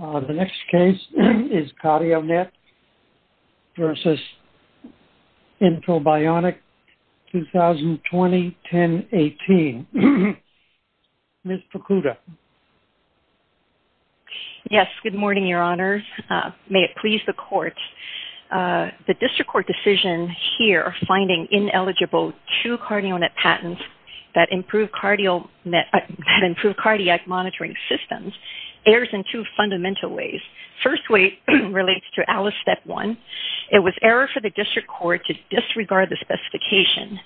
The next case is CardioNet v. InfoBionic, 2020-10-18. Ms. Fukuda. Yes, good morning, Your Honors. May it please the Court. The District Court decision here, finding ineligible two CardioNet patents that improve cardiac monitoring systems, errs in two fundamental ways. The first way relates to Alice Step 1. It was error for the District Court to disregard the specification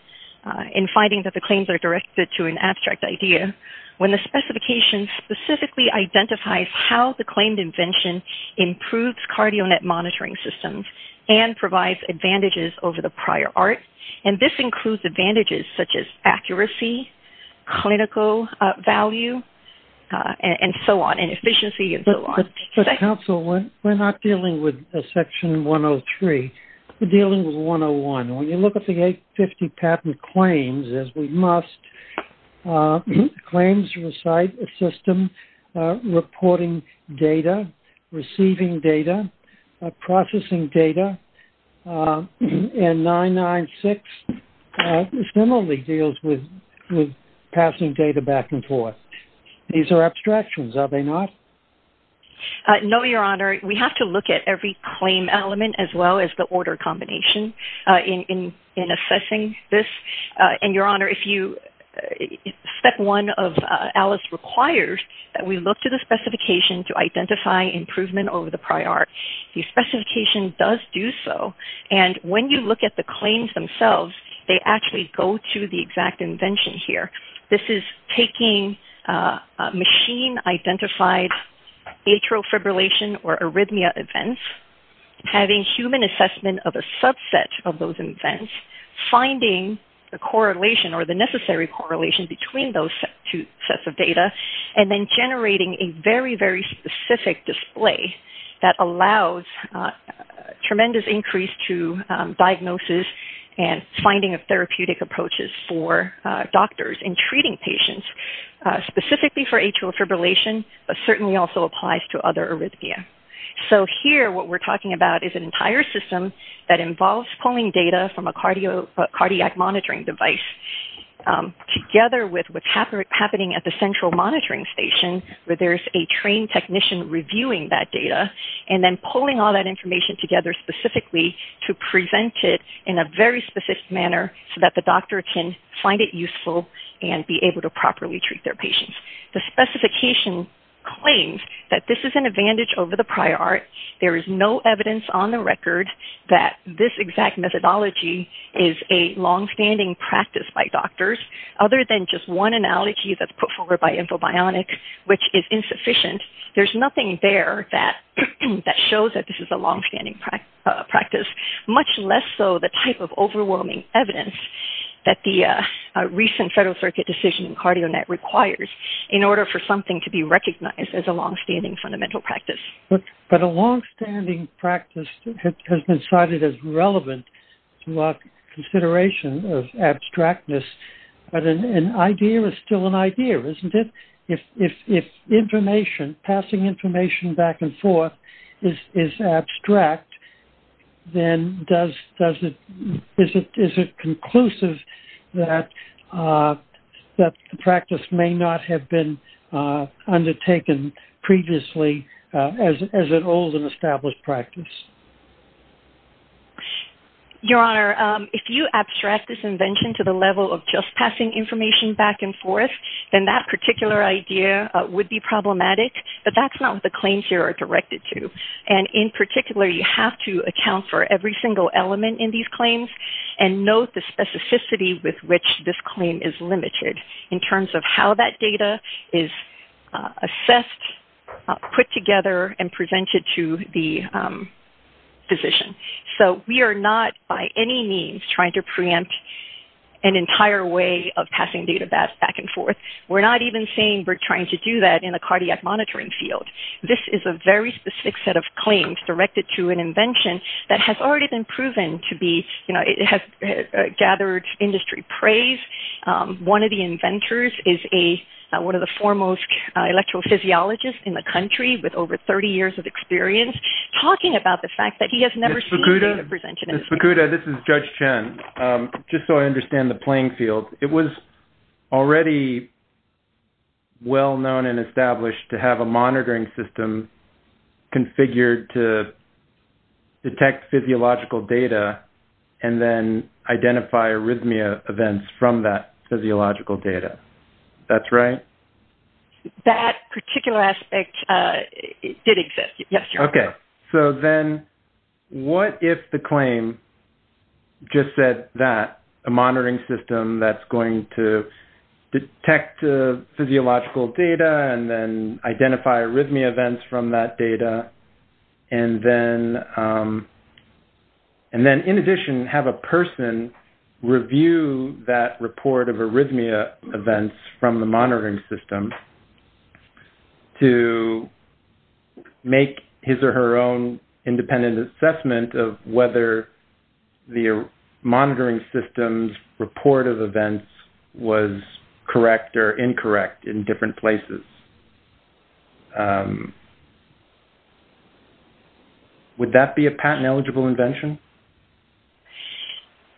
in finding that the claims are directed to an abstract idea when the specification specifically identifies how the claimed invention improves CardioNet monitoring systems and provides advantages over the prior art. And this includes advantages such as accuracy, clinical value, and so on, and efficiency, and so on. But counsel, we're not dealing with Section 103. We're dealing with 101. When you look at the 850 patent claims, as we must, claims recite a system reporting data, receiving data, processing data, and 996 similarly deals with passing data back and forth. These are abstractions, are they not? No, Your Honor. We have to look at every claim element as well as the Alice requires that we look to the specification to identify improvement over the prior art. The specification does do so, and when you look at the claims themselves, they actually go to the exact invention here. This is taking machine-identified atrial fibrillation or arrhythmia events, having human assessment of a subset of those events, finding the correlation or the necessary correlation between those two sets of data, and then generating a very, very specific display that allows tremendous increase to diagnosis and finding of therapeutic approaches for doctors in treating patients specifically for atrial fibrillation, but certainly also applies to other arrhythmia. So here what we're talking about is an entire system that involves pulling data from a together with what's happening at the central monitoring station where there's a trained technician reviewing that data and then pulling all that information together specifically to present it in a very specific manner so that the doctor can find it useful and be able to properly treat their patients. The specification claims that this is an advantage over the prior art. There is no evidence on the record that this exact methodology is a long-standing practice by doctors, other than just one analogy that's put forward by Infobionics, which is insufficient. There's nothing there that shows that this is a long-standing practice, much less so the type of overwhelming evidence that the recent Federal Circuit decision in CardioNet requires in order for something to be recognized as a long-standing fundamental practice. But a long-standing practice has been cited as relevant to our consideration of abstractness, but an idea is still an idea, isn't it? If information, passing information back and forth, is abstract, then is it conclusive that the practice may not have been undertaken previously as an old and to the level of just passing information back and forth, then that particular idea would be problematic. But that's not the claims here are directed to. And in particular, you have to account for every single element in these claims and note the specificity with which this claim is limited in terms of how that data is assessed, put together, and presented to the physician. So we are not by any means trying to preempt an entire way of passing data back and forth. We're not even saying we're trying to do that in a cardiac monitoring field. This is a very specific set of claims directed to an invention that has already been proven to be, you know, it has gathered industry praise. One of the inventors is one of the foremost electrophysiologists in the country with over 30 years of experience talking about the fact that he has never seen a presentation. Ms. Fukuda, this is Judge Chen. Just so I understand the playing field, it was already well known and established to have a monitoring system configured to detect physiological data and then identify arrhythmia events from that physiological data. That's right? That particular aspect did exist, yes. Okay, so then what if the claim just said that a monitoring system that's going to detect physiological data and then identify arrhythmia events from that data and then in addition have a person review that report of arrhythmia events from the monitoring system to make his or her own independent assessment of whether the monitoring system's report of events was correct or incorrect in different places? Would that be a patent-eligible invention?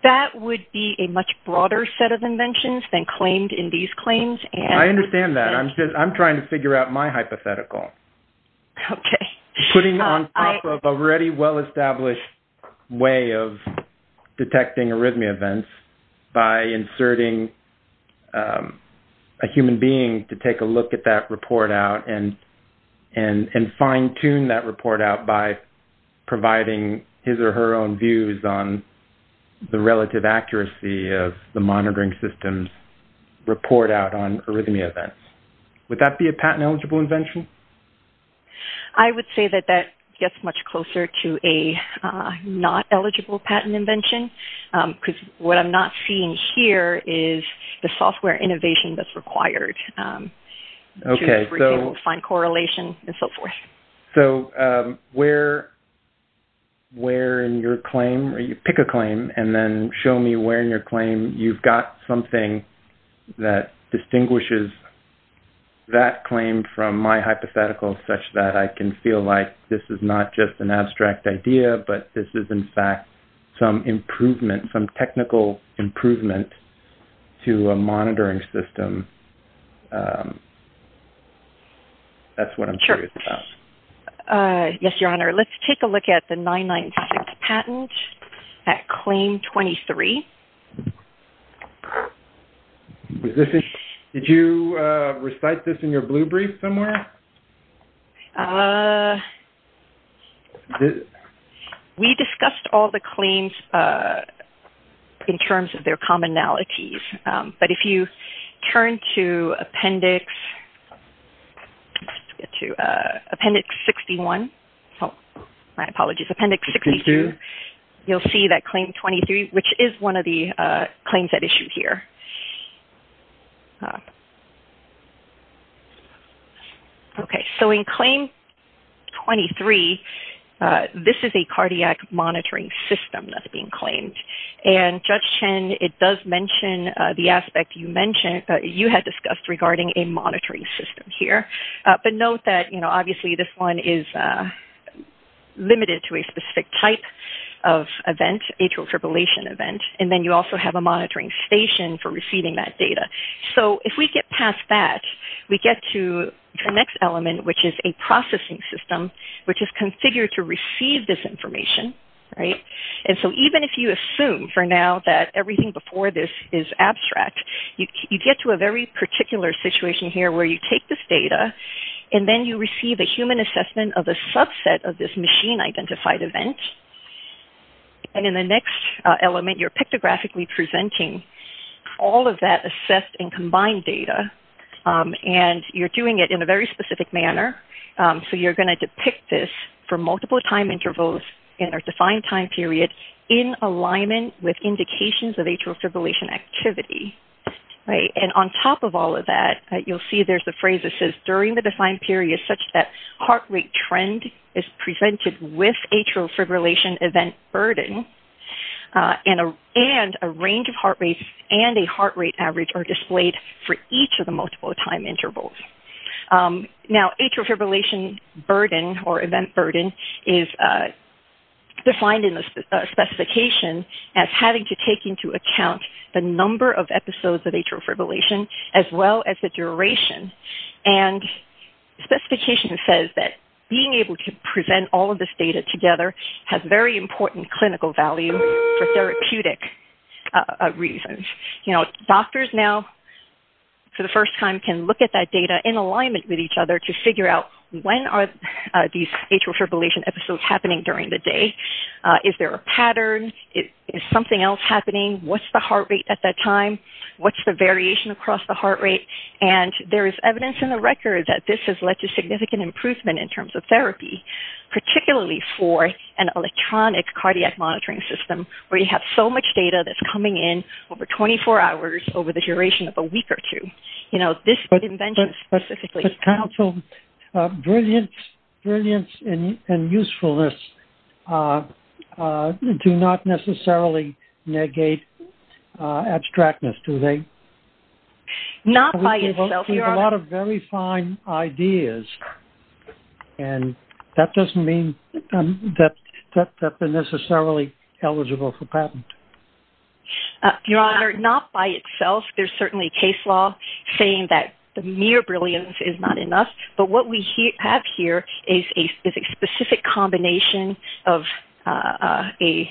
That would be a much broader set of inventions than claimed in these claims. I understand that. I'm just trying to figure out my hypothetical. Okay. Putting on top of already well-established way of detecting arrhythmia events by inserting a human being to take a look at that report out and fine-tune that on the relative accuracy of the monitoring system's report out on arrhythmia events. Would that be a patent-eligible invention? I would say that that gets much closer to a not-eligible patent invention, because what I'm not seeing here is the software innovation that's required to be able to find correlation and so forth. So, where in your claim, pick a claim and then show me where in your claim you've got something that distinguishes that claim from my hypothetical such that I can feel like this is not just an abstract idea, but this is in fact some improvement, some technical improvement to a monitoring system. That's what I'm curious about. Yes, Your Honor. Let's take a look at the 996 patent at claim 23. Did you recite this in your blue brief somewhere? We discussed all the claims in terms of their commonalities. But if you turn to appendix 61, my apologies, appendix 62, you'll see that claim 23, which is one of the claims at issue here. So, in claim 23, this is a cardiac monitoring system that's being claimed. And Judge Chen, it does mention the aspect you had discussed regarding a monitoring system here. But note that, obviously, this one is limited to a specific type of event, atrial fibrillation event. And then you also have a monitoring station for receiving that data. So, if we get past that, we get to the next element, which is a processing system, which is configured to receive this information. And so, even if you assume, for now, that everything before this is abstract, you get to a very particular situation here, where you take this data, and then you receive a human assessment of a subset of this machine-identified event. And in the next element, you're pictographically presenting all of that assessed and combined data. And you're doing it in a very specific manner. So, you're going to depict this for multiple time intervals in a defined time period in alignment with indications of atrial fibrillation activity. And on top of all of that, you'll see there's a phrase that says, during the defined period, such that heart rate trend is presented with atrial fibrillation event burden, and a range of heart rates and a heart rate average are displayed for each of the multiple time intervals. Now, atrial fibrillation burden, or event burden, is defined in the specification as having to take into account the number of episodes of atrial fibrillation, as well as the duration. And the specification says that being able to present all of this data together has very important clinical value for therapeutic reasons. Doctors now, for the first time, can look at that data in alignment with each other to figure out when are these atrial fibrillation episodes happening during the day. Is there a pattern? Is something else happening? What's the heart rate at that time? What's the variation across the heart rate? And there is evidence in the record that this has led to significant improvement in terms of therapy, particularly for an electronic cardiac monitoring system, where you have so much data that's coming in over 24 hours over the duration of a week or two. You know, this invention specifically. But, counsel, brilliance and usefulness do not necessarily negate abstractness, do they? Not by itself, your honor. A lot of very fine ideas. And that doesn't mean that they're necessarily eligible for patent. Your honor, not by itself. There's certainly case law saying that the mere brilliance is not enough. But what we have here is a specific combination of a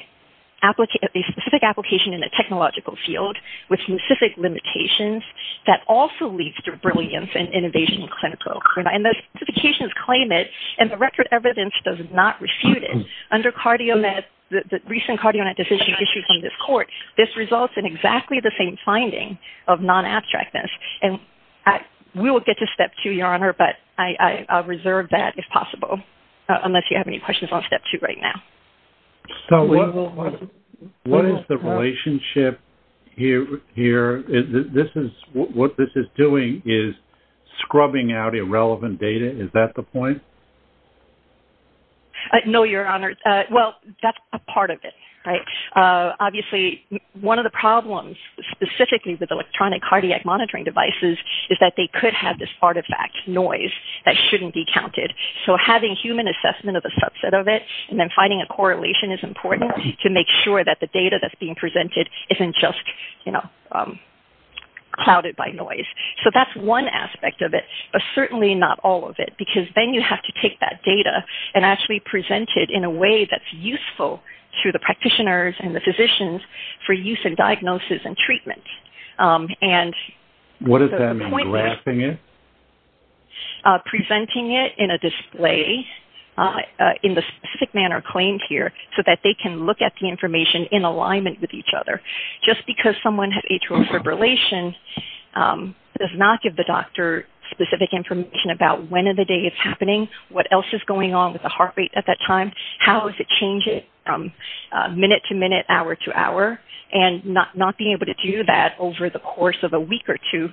specific application in a technological field with specific limitations that also leads to brilliance and innovation in clinical and the specifications claim it. And the record evidence does not refute it. Under cardiomet, the recent cardiomet decision issued from this court, this results in exactly the same finding of non-abstractness. And we will get to step two, your honor. But I reserve that if possible, unless you have any questions on step two right now. So what is the relationship here? This is what this is doing is scrubbing out irrelevant data. Is that the point? No, your honor. Well, that's a part of it, right? Obviously, one of the problems specifically with electronic cardiac monitoring devices is that they could have this artifact noise that shouldn't be counted. So having human assessment of a subset of it and then finding a correlation is important to make sure that the data that's being presented isn't just clouded by noise. So that's one aspect of it, but certainly not all of it. Because then you have to take that data and actually present it in a way that's useful to the practitioners and the physicians for use and diagnosis and treatment. What does that mean? Wrapping it? Presenting it in a display in the specific manner claimed here so that they can look at the information in alignment with each other. Just because someone has atrial fibrillation does not give the doctor specific information about when of the day it's happening, what else is going on with the heart rate at that time, how is it changing from minute to minute, hour to hour. And not being able to do that over the course of a week or two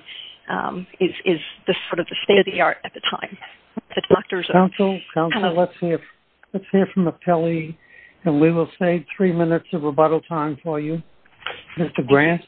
is sort of the state of the art at the time. Counsel, let's hear from the Pelley. And we will save three minutes of rebuttal time for you. Mr. Grant?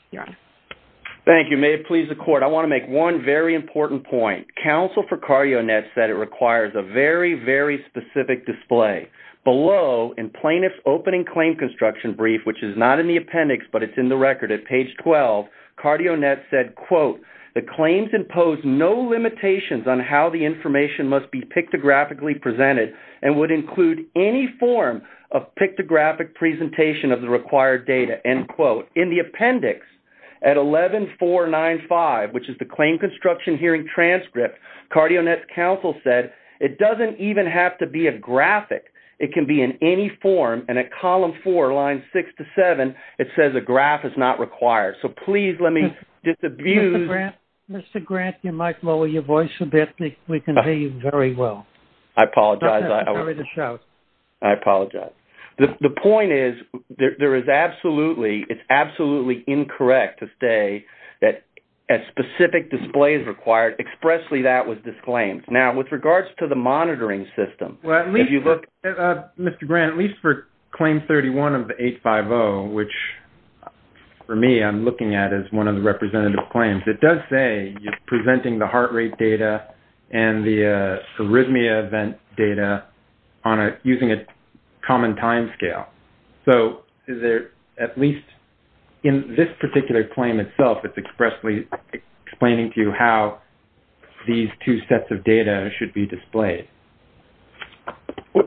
Thank you. May it please the court. I want to make one very important point. Counsel for CardioNet said it requires a very, very specific display. Below in plaintiff's opening claim construction brief, which is not in the appendix, but it's in the record at page 12, CardioNet said, quote, the claims impose no limitations on how the information must be pictographically presented and would include any form of pictographic presentation of the required data, end quote. In the appendix at 11495, which is the claim construction hearing transcript, CardioNet's counsel said, it doesn't even have to be a graphic. It can be in any form. And at column four, line six to seven, it says a graph is not required. So please let me disabuse... Mr. Grant, you might lower your voice a bit. We can hear you very well. I apologize. I apologize. The point is, it's absolutely incorrect to say that a specific display is required. Expressly, that was disclaimed. Now, with regards to the monitoring system, if you look... Mr. Grant, at least for claim 31 of the 850, which, for me, I'm looking at as one of the representative claims, it does say you're presenting the heart rate data and the arrhythmia event data using a common timescale. So is there at least... In this particular claim itself, it's expressly explaining to you how these two sets of data should be displayed.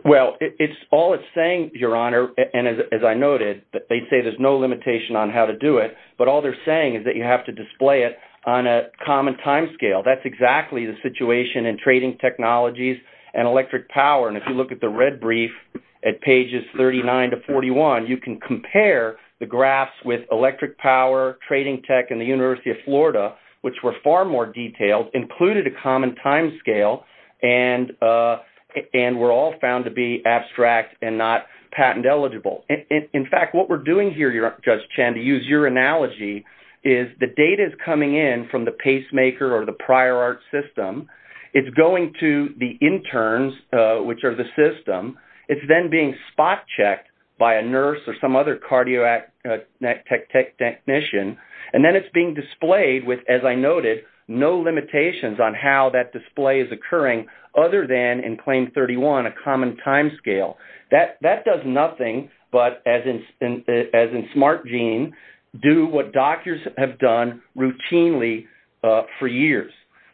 Well, it's all it's saying, Your Honor. And as I noted, they say there's no limitation on how to do it. But all they're saying is that you have to display it on a common timescale. That's exactly the situation in trading technologies and electric power. If you look at the red brief at pages 39 to 41, you can compare the graphs with electric power, trading tech, and the University of Florida, which were far more detailed, included a common timescale, and were all found to be abstract and not patent eligible. In fact, what we're doing here, Judge Chan, to use your analogy, is the data is coming in from the pacemaker or the prior art system. It's going to the interns, which are the system. It's then being spot checked by a nurse or some other cardiac technician. And then it's being displayed with, as I noted, no limitations on how that display is occurring other than in claim 31, a common timescale. That does nothing but, as in Smart Gene, do what doctors have done routinely for years.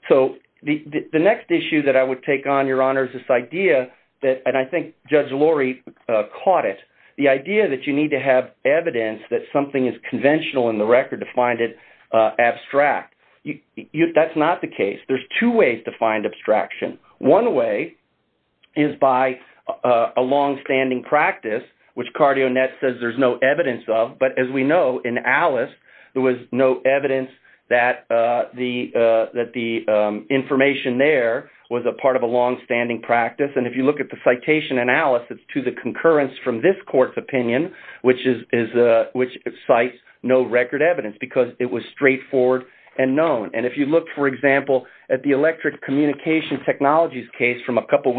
So the next issue that I would take on, Your Honor, is this idea that, and I think Judge Lori caught it, the idea that you need to have evidence that something is conventional in the record to find it abstract. That's not the case. There's two ways to find abstraction. One way is by a longstanding practice, which CardioNet says there's no evidence of. As we know, in Alice, there was no evidence that the information there was a part of a longstanding practice. If you look at the citation in Alice, it's to the concurrence from this court's opinion, which cites no record evidence because it was straightforward and known. If you look, for example, at the electric communication technologies case from a couple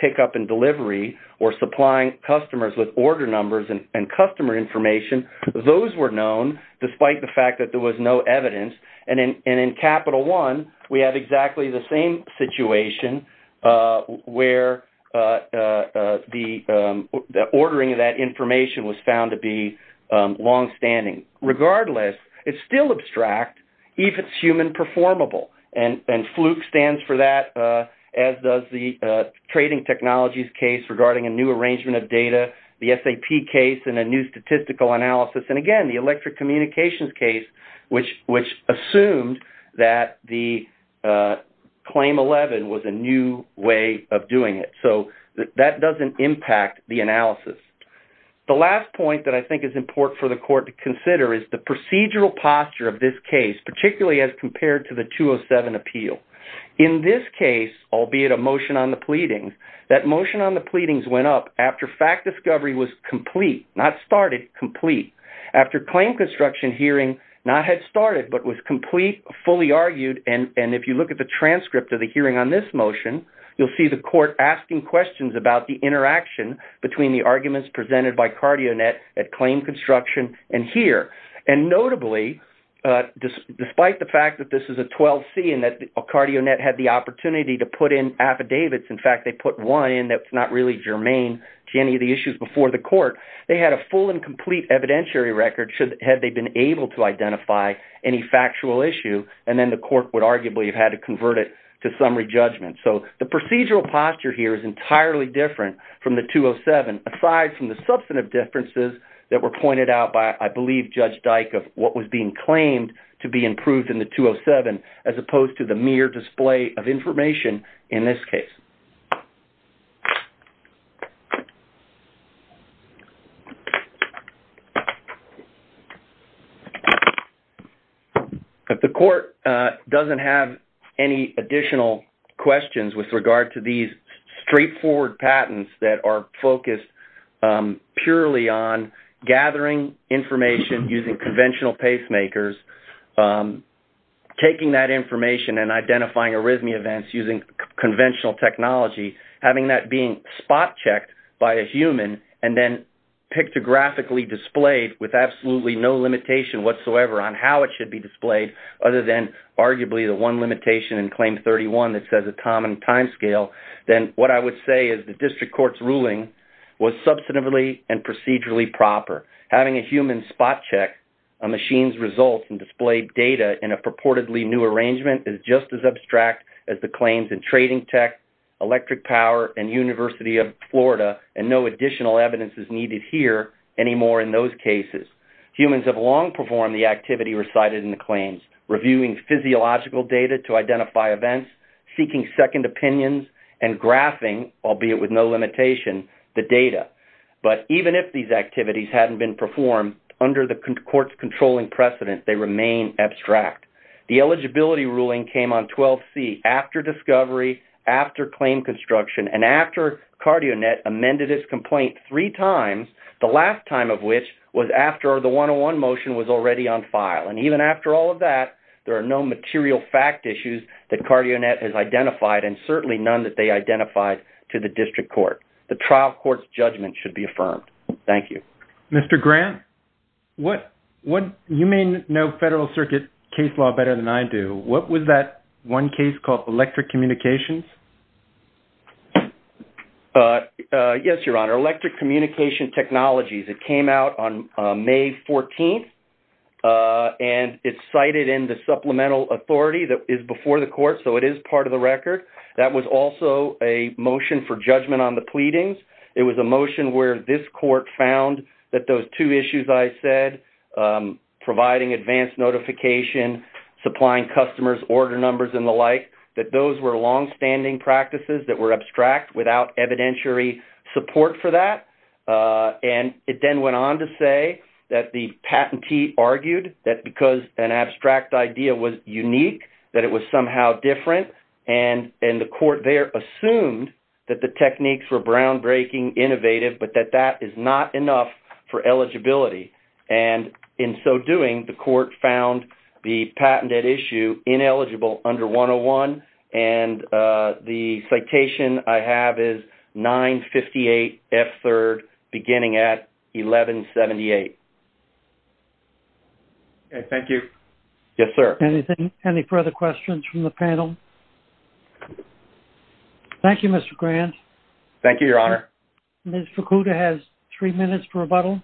pickup and delivery or supplying customers with order numbers and customer information, those were known despite the fact that there was no evidence. In Capital One, we have exactly the same situation where the ordering of that information was found to be longstanding. Regardless, it's still abstract, even if it's human performable. FLUC stands for that, as does the trading technologies case regarding a new arrangement of data, the SAP case and a new statistical analysis, and again, the electric communications case, which assumed that the Claim 11 was a new way of doing it. That doesn't impact the analysis. The last point that I think is important for the court to consider is the procedural posture of this case, particularly as compared to the 207 appeal. In this case, albeit a motion on the pleadings, that motion on the pleadings went up after fact discovery was complete, not started, complete. After claim construction hearing not had started but was complete, fully argued, and if you look at the transcript of the hearing on this motion, you'll see the court asking questions about the interaction between the arguments presented by Cardionet at claim construction and here. Notably, despite the fact that this is a 12C and that Cardionet had the opportunity to put in affidavits, in fact, they put one in that's not really germane to any of the issues before the court, they had a full and complete evidentiary record had they been able to identify any factual issue, and then the court would arguably have had to convert it to summary judgment. The procedural posture here is entirely different from the 207, aside from the substantive differences that were pointed out by, I believe, Judge Dyck of what was being claimed to be improved in the 207, as opposed to the mere display of information in this case. The court doesn't have any additional questions with regard to these straightforward patents that are focused purely on gathering information using conventional pacemakers, taking that information and identifying arrhythmia events using conventional technology, having that being spot-checked by a human and then pictographically displayed with absolutely no limitation whatsoever on how it should be displayed, other than arguably the one limitation in Claim 31 that the court's ruling was substantively and procedurally proper. Having a human spot-check a machine's results and display data in a purportedly new arrangement is just as abstract as the claims in Trading Tech, Electric Power, and University of Florida, and no additional evidence is needed here anymore in those cases. Humans have long performed the activity recited in the claims, reviewing physiological data to identify events, seeking second opinions, and graphing, albeit with no limitation, the data. But even if these activities hadn't been performed under the court's controlling precedent, they remain abstract. The eligibility ruling came on 12C after discovery, after claim construction, and after CardioNet amended its complaint three times, the last time of which was after the 101 motion was already on file. And even after all of that, there are no material fact issues that CardioNet has identified, and certainly none that they identified to the district court. The trial court's judgment should be affirmed. Thank you. Mr. Grant, you may know Federal Circuit case law better than I do. What was that one case called, Electric Communications? Yes, Your Honor. Electric Communication Technologies. It came out on May 14th, and it's cited in the supplemental authority that is before the court, so it is part of the record. That was also a motion for judgment on the pleadings. It was a motion where this court found that those two issues I said, providing advanced notification, supplying customers, order numbers, and the like, that those were longstanding practices that were abstract without evidentiary support for that. And it then went on to say that the patentee argued that because an abstract idea was unique, that it was somehow different, and the court there assumed that the techniques were groundbreaking, innovative, but that that is not enough for eligibility. And in so doing, the court found the patented issue ineligible under 101, and the citation I have is 958F3rd, beginning at 1178. Okay. Thank you. Yes, sir. Anything? Any further questions from the panel? Thank you, Mr. Grant. Thank you, Your Honor. Ms. Fukuda has three minutes for rebuttal.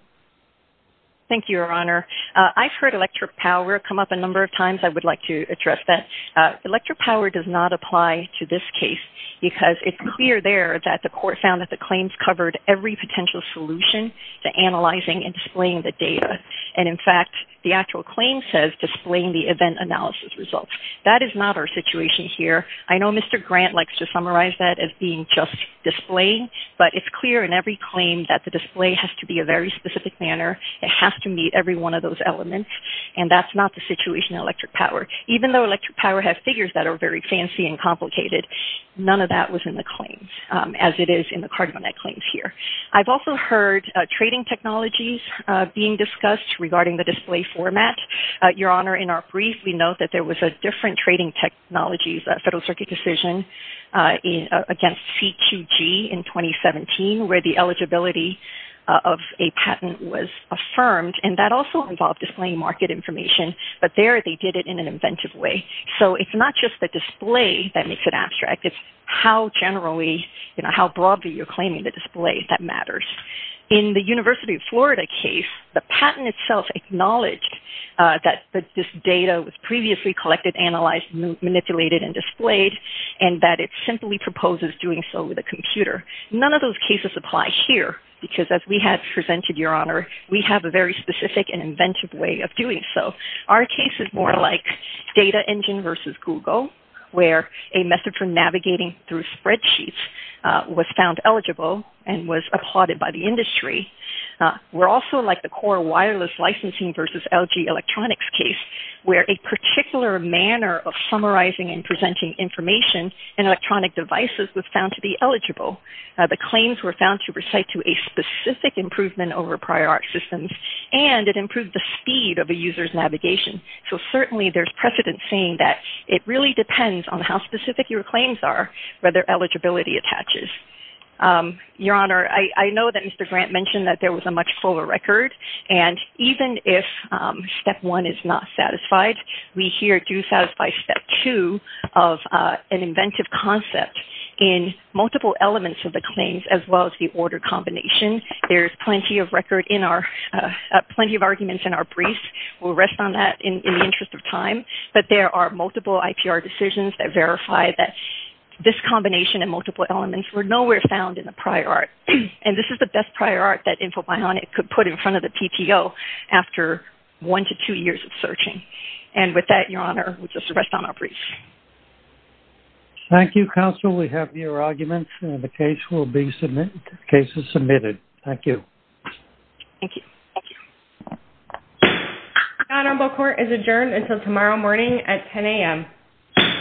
Thank you, Your Honor. I've heard electric power come up a number of times. I would like to address that. Electric power does not apply to this case, because it's clear there that the court found that the claims covered every potential solution to analyzing and displaying the data. And in fact, the actual claim says displaying the event analysis results. That is not our situation here. I know Mr. Grant likes to summarize that as being just displaying, but it's clear in every claim that the display has to be a very specific manner, it has to meet every one of those elements, and that's not the situation in electric power. Even though electric power has figures that are very fancy and complicated, none of that was in the claims, as it is in the cardmonite claims here. I've also heard trading technologies being discussed regarding the display format. Your Honor, in our brief, we note that there was a different trading technology, the Federal Circuit decision against C2G in 2017, where the eligibility of a patent was affirmed, and that also involved displaying market information. But there, they did it in an inventive way. So it's not just the display that makes it abstract, it's how broadly you're claiming the display that matters. In the University of Florida case, the patent itself acknowledged that this data was previously collected, analyzed, manipulated, and displayed, and that it simply proposes doing so with a computer. None of those cases apply here, because as we had presented, Your Honor, we have a very Our case is more like Data Engine versus Google, where a method for navigating through spreadsheets was found eligible and was applauded by the industry. We're also like the Core Wireless Licensing versus LG Electronics case, where a particular manner of summarizing and presenting information in electronic devices was found to be eligible. The claims were found to recite to a specific improvement over prior art systems, and it So certainly there's precedent saying that it really depends on how specific your claims are, where their eligibility attaches. Your Honor, I know that Mr. Grant mentioned that there was a much fuller record, and even if step one is not satisfied, we here do satisfy step two of an inventive concept in multiple elements of the claims, as well as the order combination. There's plenty of record in our, plenty of arguments in our briefs. We'll rest on that in the interest of time, but there are multiple IPR decisions that verify that this combination and multiple elements were nowhere found in the prior art. And this is the best prior art that InfoBionic could put in front of the PTO after one to two years of searching. And with that, Your Honor, we'll just rest on our briefs. Thank you, Counsel. We have your arguments, and the case will be submitted, case is submitted. Thank you. Thank you. Thank you. The Honorable Court is adjourned until tomorrow morning at 10 a.m.